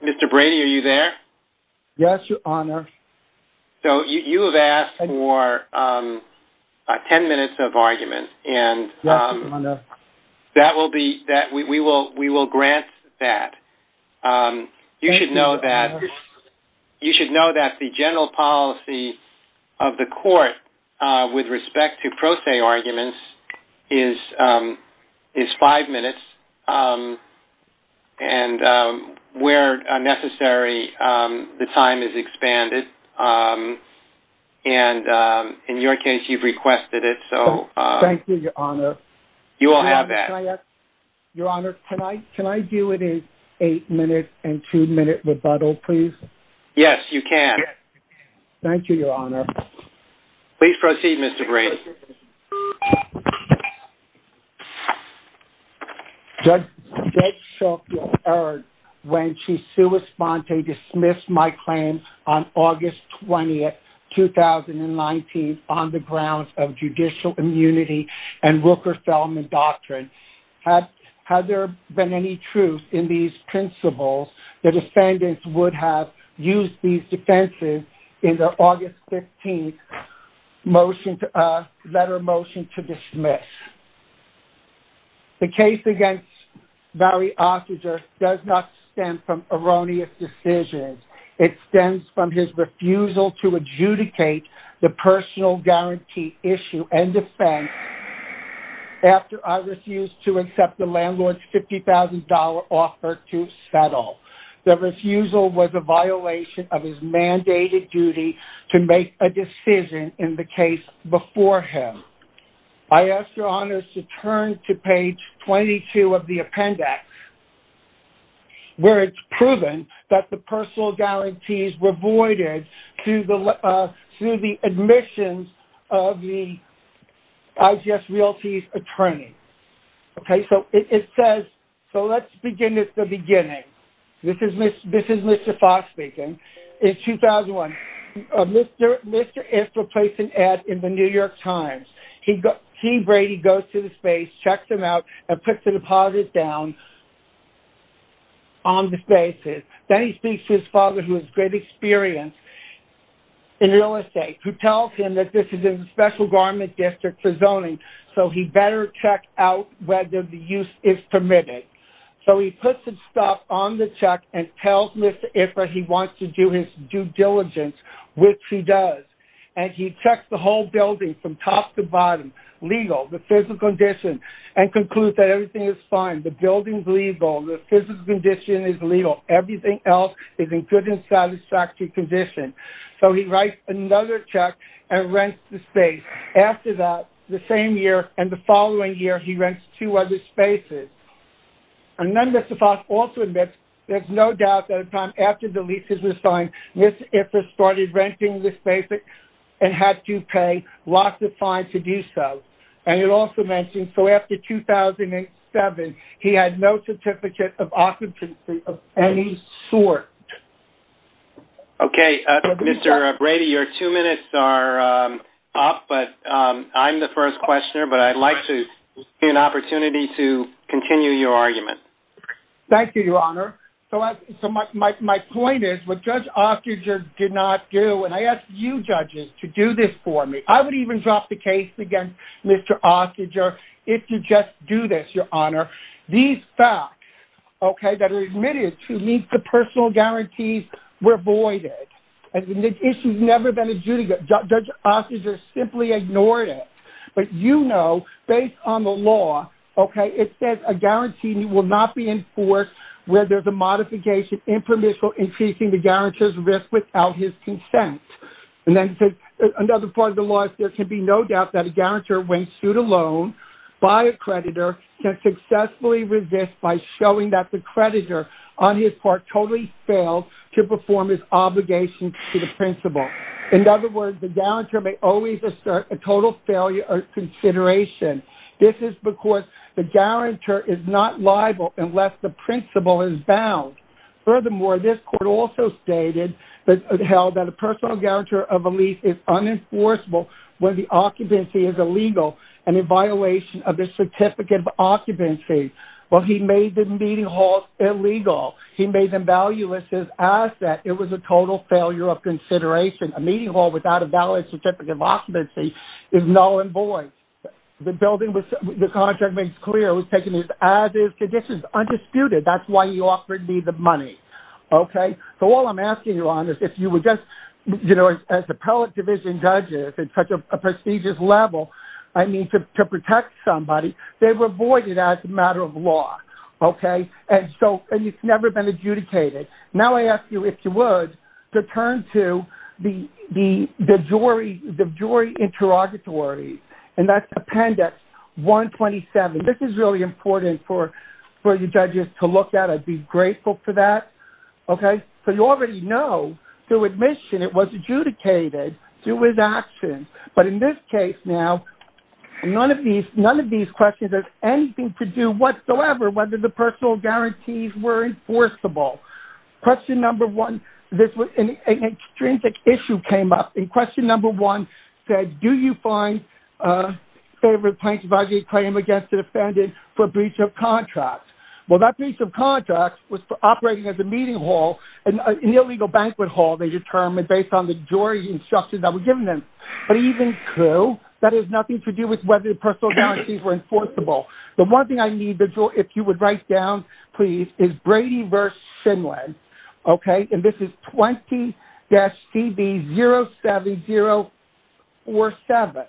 Mr. Brady, are you there? Yes, Your Honor. You have asked for 10 minutes of argument. Yes, Your Honor. We will grant that. You should know that the general policy of the court with respect to pro se arguments is 5 minutes and where necessary the time is expanded and in your case you have requested it. Thank you, Your Honor. You will have that. Your Honor, can I do it in 8 minute and 2 minute rebuttal, please? Yes, you can. Thank you, Your Honor. Please proceed, Mr. Brady. Thank you, Your Honor. The case against Barry Ostrager does not stem from erroneous decisions. It stems from his refusal to adjudicate the personal guarantee issue and defense after I refused to accept the landlord's $50,000 offer to settle. The refusal was a violation of his mandated duty to make a decision in the case before him. I ask Your Honor to turn to page 22 of the appendix where it's proven that the personal guarantees were voided through the admissions of the IGS realties attorney. Okay, so it says, so let's begin at the beginning. This is Mr. Fox speaking. In 2001, Mr. Ostrager placed an ad in the New York Times. He, Brady, goes to the space, checks them out, and puts the deposit down on the basis. Then he speaks to his father, who has great experience in real estate, who tells him that this is a special garment district for zoning, so he better check out whether the use is permitted. So he puts his stuff on the check and tells Mr. Ifrah he wants to do his due diligence, which he does. And he checks the whole building from top to bottom, legal, the physical condition, and concludes that everything is fine. The building's legal. The physical condition is legal. Everything else is in good and satisfactory condition. So he writes another check and rents the space. After that, the same year and the following year, he rents two other spaces. And then Mr. Fox also admits there's no doubt that at the time after the leases were signed, Mr. Ifrah started renting the space and had to pay lots of fines to do so. And it also mentions, so after 2007, he had no certificate of occupancy of any sort. Okay, Mr. Brady, your two minutes are up, but I'm the first questioner, but I'd like to see an opportunity to continue your argument. Thank you, Your Honor. So my point is, what Judge Osterger did not do, and I ask you judges to do this for me. I would even drop the case against Mr. Osterger if you just do this, Your Honor. These facts, okay, that are admitted to meet the personal guarantees were voided. And the issue's never been adjudicated. Judge Osterger simply ignored it. But you know, based on the law, okay, it says a guarantee will not be enforced where there's a modification impermissible increasing the guarantor's risk without his consent. And then another part of the law is there can be no doubt that a guarantor, when sued alone by a creditor, can successfully resist by showing that the creditor, on his part, totally failed to perform his obligation to the principal. In other words, the guarantor may always assert a total failure of consideration. This is because the guarantor is not liable unless the principal is bound. Furthermore, this court also stated that held that a personal guarantor of a lease is unenforceable when the occupancy is illegal and in violation of the certificate of occupancy. Well, he made the meeting hall illegal. He made them valueless his asset. It was a total failure of consideration. A meeting hall without a valid certificate of occupancy is null and void. The building was – the contract makes clear it was taken as is, conditions undisputed. That's why he offered me the money. Okay? So all I'm asking you on is if you would just, you know, as appellate division judges at such a prestigious level, I mean, to protect somebody, they were voided as a matter of law. Okay? And so – and it's never been adjudicated. Now I ask you, if you would, to turn to the jury interrogatory, and that's Appendix 127. This is really important for the judges to look at. I'd be grateful for that. Okay? So you already know through admission it was adjudicated through his actions. But in this case now, none of these questions have anything to do whatsoever whether the personal guarantees were enforceable. Question number one, this was – an extrinsic issue came up, and question number one said, do you find a favorite plaintiff object claim against the defendant for breach of contract? Well, that breach of contract was operating as a meeting hall, an illegal banquet hall, they determined, based on the jury instructions that were given them. But even through, that has nothing to do with whether the personal guarantees were enforceable. The one thing I need the jury – if you would write down, please, is Brady v. Shindland. Okay? And this is 20-DB07047.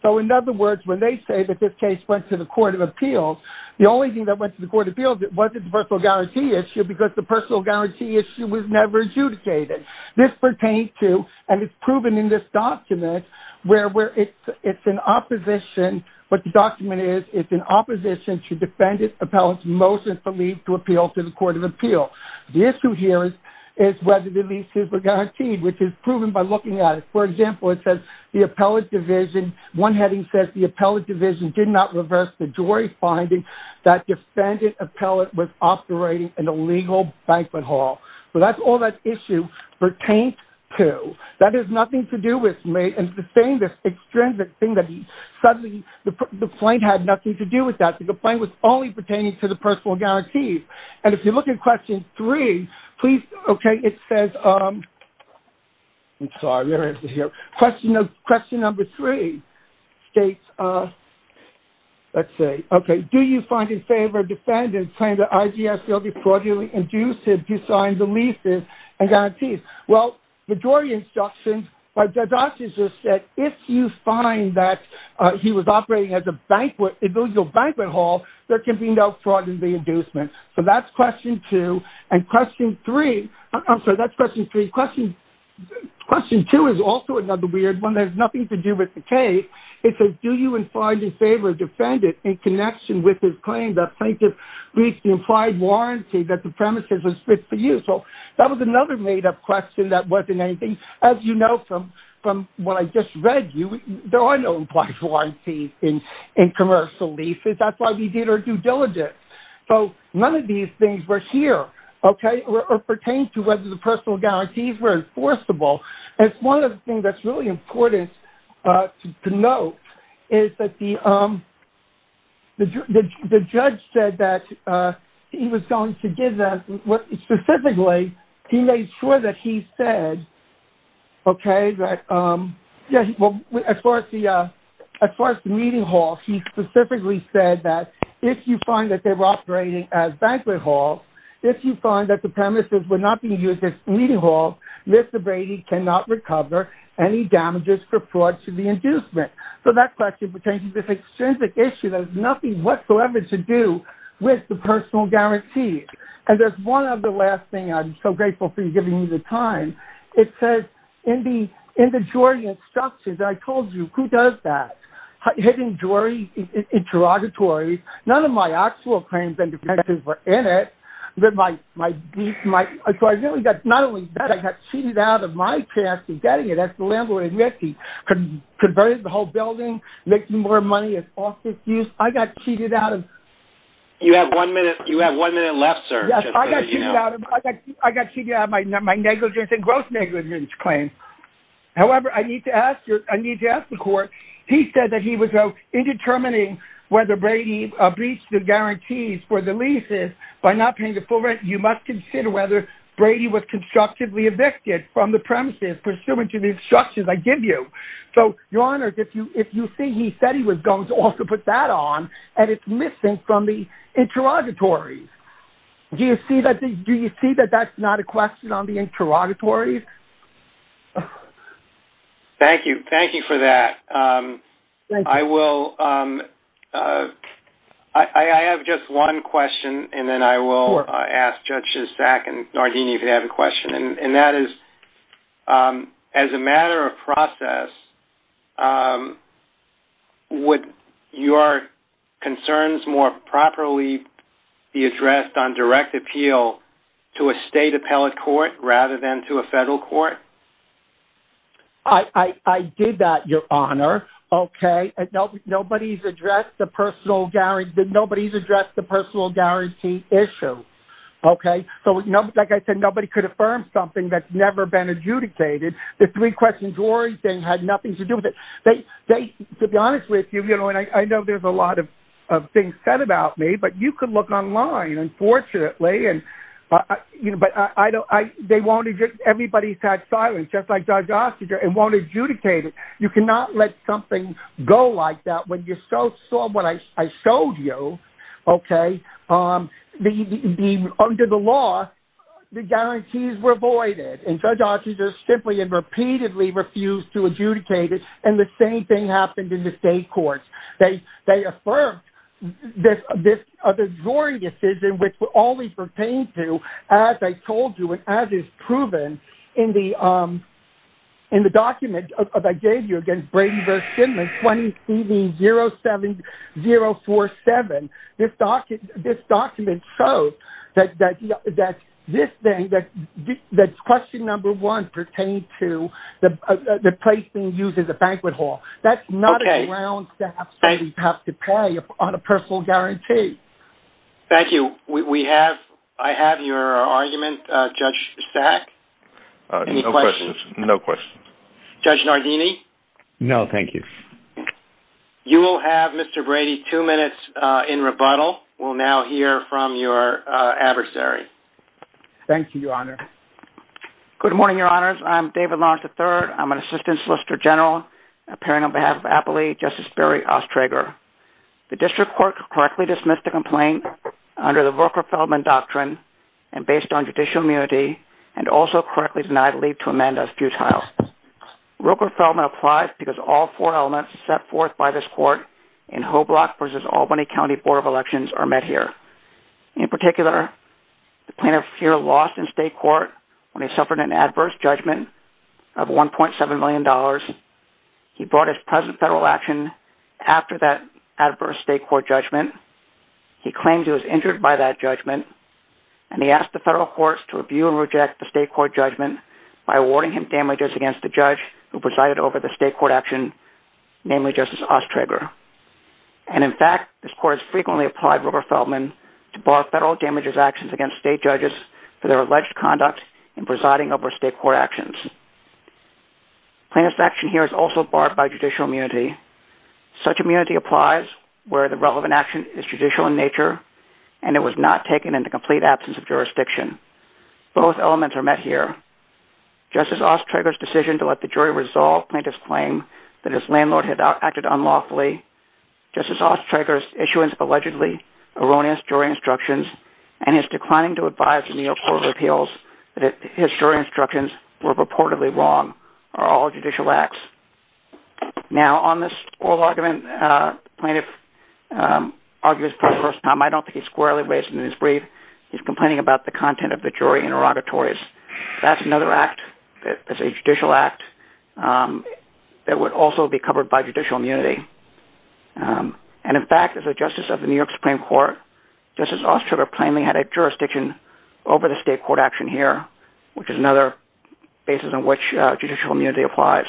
So in other words, when they say that this case went to the Court of Appeals, the only thing that went to the Court of Appeals, it wasn't the personal guarantee issue because the personal guarantee issue was never adjudicated. This pertains to, and it's proven in this document, where it's in opposition. What the document is, it's in opposition to defendant appellate's motion for leave to appeal to the Court of Appeals. The issue here is whether the leases were guaranteed, which is proven by looking at it. For example, it says the appellate division – one heading says the appellate division did not reverse the jury's finding that defendant appellate was operating an illegal banquet hall. So that's all that issue pertains to. That has nothing to do with me in saying this extrinsic thing that suddenly the claim had nothing to do with that. The claim was only pertaining to the personal guarantees. And if you look at question three, please – okay, it says – I'm sorry. Question number three states – let's see. Okay. Do you find in favor of defendant's claim that IGS will be fraudulently induced to sign the leases and guarantees? Well, the jury instructions by Dadausisus said if you find that he was operating as an illegal banquet hall, there can be no fraud in the inducement. So that's question two. And question three – I'm sorry. That's question three. Question two is also another weird one. It has nothing to do with the case. It says do you find in favor of defendant in connection with his claim that plaintiff reached the implied warranty that the premises were split for use? So that was another made-up question that wasn't anything. As you know from what I just read, there are no implied warranties in commercial leases. That's why we did our due diligence. So none of these things were here, okay, or pertained to whether the personal guarantees were enforceable. And one of the things that's really important to note is that the judge said that he was going to give us – specifically, he made sure that he said, okay, that – well, as far as the meeting hall, he specifically said that if you find that they were operating as banquet halls, if you find that the premises were not being used as meeting halls, Mr. Brady cannot recover any damages for fraud to the inducement. So that question pertains to this extrinsic issue that has nothing whatsoever to do with the personal guarantees. And there's one other last thing. I'm so grateful for you giving me the time. It says in the jury instructions, I told you, who does that? Hidden jury interrogatory. None of my actual claims and defenses were in it. So I really got – not only that, I got cheated out of my chance of getting it. As the landlord admits, he converted the whole building, making more money as office use. I got cheated out of – You have one minute left, sir. I got cheated out of my negligence and gross negligence claim. However, I need to ask the court. He said that he was indetermining whether Brady breached the guarantees for the leases by not paying the full rent. You must consider whether Brady was constructively evicted from the premises pursuant to the instructions I give you. So, Your Honor, if you see, he said he was going to also put that on, and it's missing from the interrogatories. Do you see that that's not a question on the interrogatories? Thank you. Thank you for that. I will – I have just one question, and then I will ask Judges Sack and Nardini if you have a question. And that is, as a matter of process, would your concerns more properly be addressed on direct appeal to a state appellate court rather than to a federal court? I did that, Your Honor. Okay? Nobody's addressed the personal guarantee issue. Okay? So, like I said, nobody could affirm something that's never been adjudicated. The three-question jury thing had nothing to do with it. They – to be honest with you, you know, and I know there's a lot of things said about me, but you can look online, unfortunately. And, you know, but I don't – they won't – everybody's had silence, just like Judge Osterger, and won't adjudicate it. You cannot let something go like that. When you saw what I showed you, okay, under the law, the guarantees were voided, and Judge Osterger simply and repeatedly refused to adjudicate it, and the same thing happened in the state courts. They affirmed this jury decision, which always pertained to, as I told you and as is proven in the document that I gave you against Brady v. Schindler, 20th CD 07047. This document shows that this thing, that question number one pertained to the place being used as a banquet hall. That's not a ground staff that we have to pay on a personal guarantee. Thank you. We have – I have your argument, Judge Sack. Any questions? No questions. Judge Nardini? No, thank you. You will have, Mr. Brady, two minutes in rebuttal. We'll now hear from your adversary. Thank you, Your Honor. Good morning, Your Honors. I'm David Lawrence III. I'm an assistant solicitor general, appearing on behalf of Appley, Justice Barry Osterger. The district court correctly dismissed the complaint under the Roker-Feldman doctrine and based on judicial immunity, and also correctly denied leave to amend as futile. Roker-Feldman applies because all four elements set forth by this court in Hoblock v. Albany County Board of Elections are met here. In particular, the plaintiff here lost in state court when he suffered an adverse judgment of $1.7 million. He brought his present federal action after that adverse state court judgment. He claims he was injured by that judgment, and he asked the federal courts to review and reject the state court judgment by awarding him damages against the judge who presided over the state court action, namely Justice Osterger. And in fact, this court has frequently applied Roker-Feldman to bar federal damages actions against state judges for their alleged conduct in presiding over state court actions. Plaintiff's action here is also barred by judicial immunity. Such immunity applies where the relevant action is judicial in nature, and it was not taken in the complete absence of jurisdiction. Both elements are met here. Justice Osterger's decision to let the jury resolve plaintiff's claim that his landlord had acted unlawfully, Justice Osterger's issuance of allegedly erroneous jury instructions, and his declining to advise the New York Court of Appeals that his jury instructions were reportedly wrong are all judicial acts. Now, on this oral argument, the plaintiff argues for the first time, I don't think he's squarely raising his brief, he's complaining about the content of the jury interrogatories. That's another act that is a judicial act that would also be covered by judicial immunity. And in fact, as a justice of the New York Supreme Court, Justice Osterger plainly had a jurisdiction over the state court action here, which is another basis on which judicial immunity applies.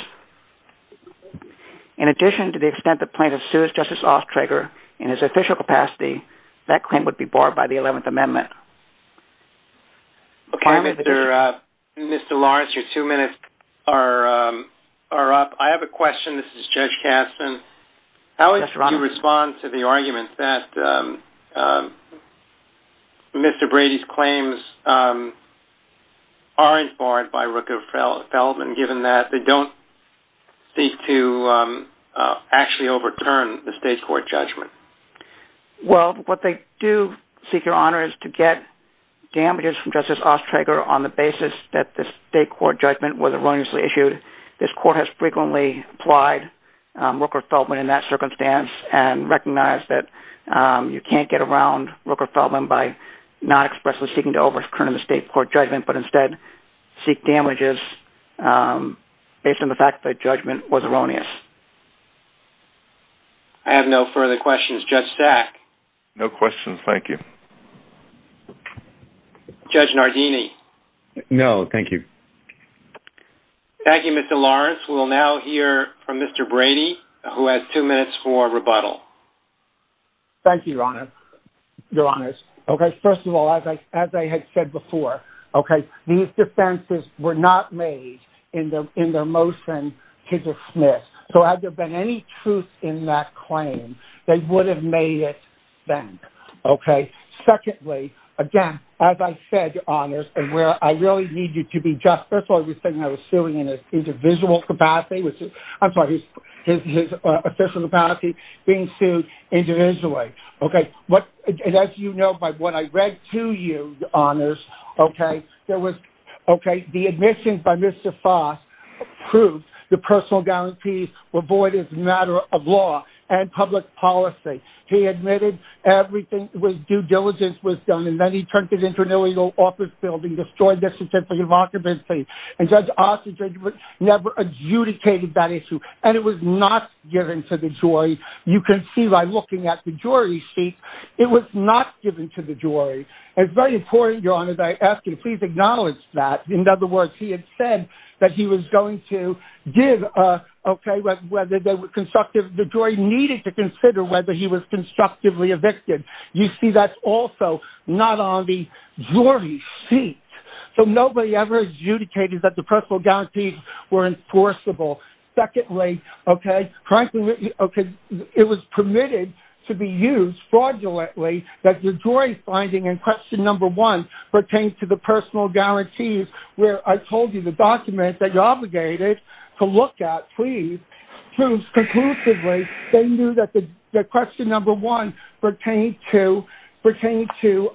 In addition to the extent the plaintiff sues Justice Osterger in his official capacity, that claim would be barred by the 11th Amendment. Okay, Mr. Lawrence, your two minutes are up. I have a question. This is Judge Kastin. How would you respond to the argument that Mr. Brady's claims are barred by Rooker-Feldman, given that they don't seek to actually overturn the state court judgment? Well, what they do seek your honor is to get damages from Justice Osterger on the basis that the state court judgment was erroneously issued. This court has frequently applied Rooker-Feldman in that circumstance and recognized that you can't get around Rooker-Feldman by not expressly seeking to overturn the state court judgment, but instead seek damages based on the fact that the judgment was erroneous. I have no further questions. Judge Stack? No questions. Thank you. Judge Nardini? No, thank you. Thank you, Mr. Lawrence. We will now hear from Mr. Brady, who has two minutes for rebuttal. Thank you, your honor. Your honors, first of all, as I had said before, these defenses were not made in their motion to dismiss. So had there been any truth in that claim, they would have made it then. Secondly, again, as I said, your honors, and where I really need you to be just, first of all, I was thinking I was suing in an individual capacity, I'm sorry, his official capacity, being sued individually. Okay, and as you know by what I read to you, your honors, okay, there was, okay, the admission by Mr. Foss proved the personal guarantees were void as a matter of law and public policy. He admitted everything with due diligence was done, and then he turned to the inter-legal office building, destroyed the certificate of occupancy, and Judge Ossinger never adjudicated that issue, and it was not given to the jury. You can see by looking at the jury sheet, it was not given to the jury. It's very important, your honors, I ask you to please acknowledge that. In other words, he had said that he was going to give, okay, whether they were constructive. The jury needed to consider whether he was constructively evicted. You see that's also not on the jury sheet. So nobody ever adjudicated that the personal guarantees were enforceable. Secondly, okay, frankly, okay, it was permitted to be used fraudulently that the jury finding in question number one pertained to the personal guarantees, where I told you the document that you're obligated to look at, please, proves conclusively they knew that the question number one pertained to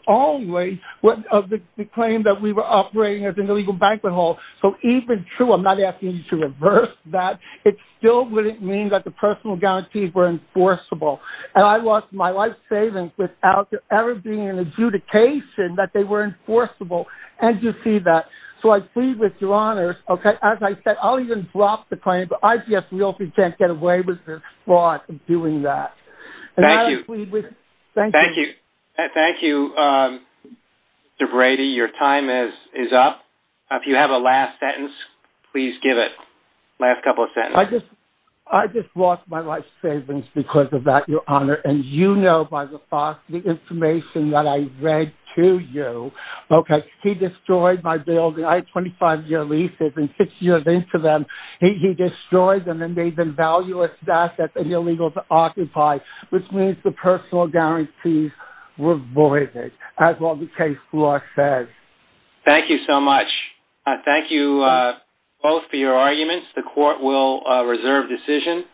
only the claim that we were operating as an illegal banquet hall. So even true, I'm not asking you to reverse that, it still wouldn't mean that the personal guarantees were enforceable. And I lost my life savings without there ever being an adjudication that they were enforceable. And you see that. So I plead with your honors, okay, as I said, I'll even drop the claim, but ICS realty can't get away with fraud in doing that. Thank you. Thank you. Thank you, Mr. Brady. Your time is up. If you have a last sentence, please give it, last couple of sentences. I just lost my life savings because of that, Your Honor. And you know by the fact, the information that I read to you, okay, he destroyed my building. I had 25-year leases and six years into them, he destroyed them and made them valueless assets and illegal to occupy, which means the personal guarantees were voided, as well the case law says. Thank you so much. Thank you both for your arguments. The court will reserve decision.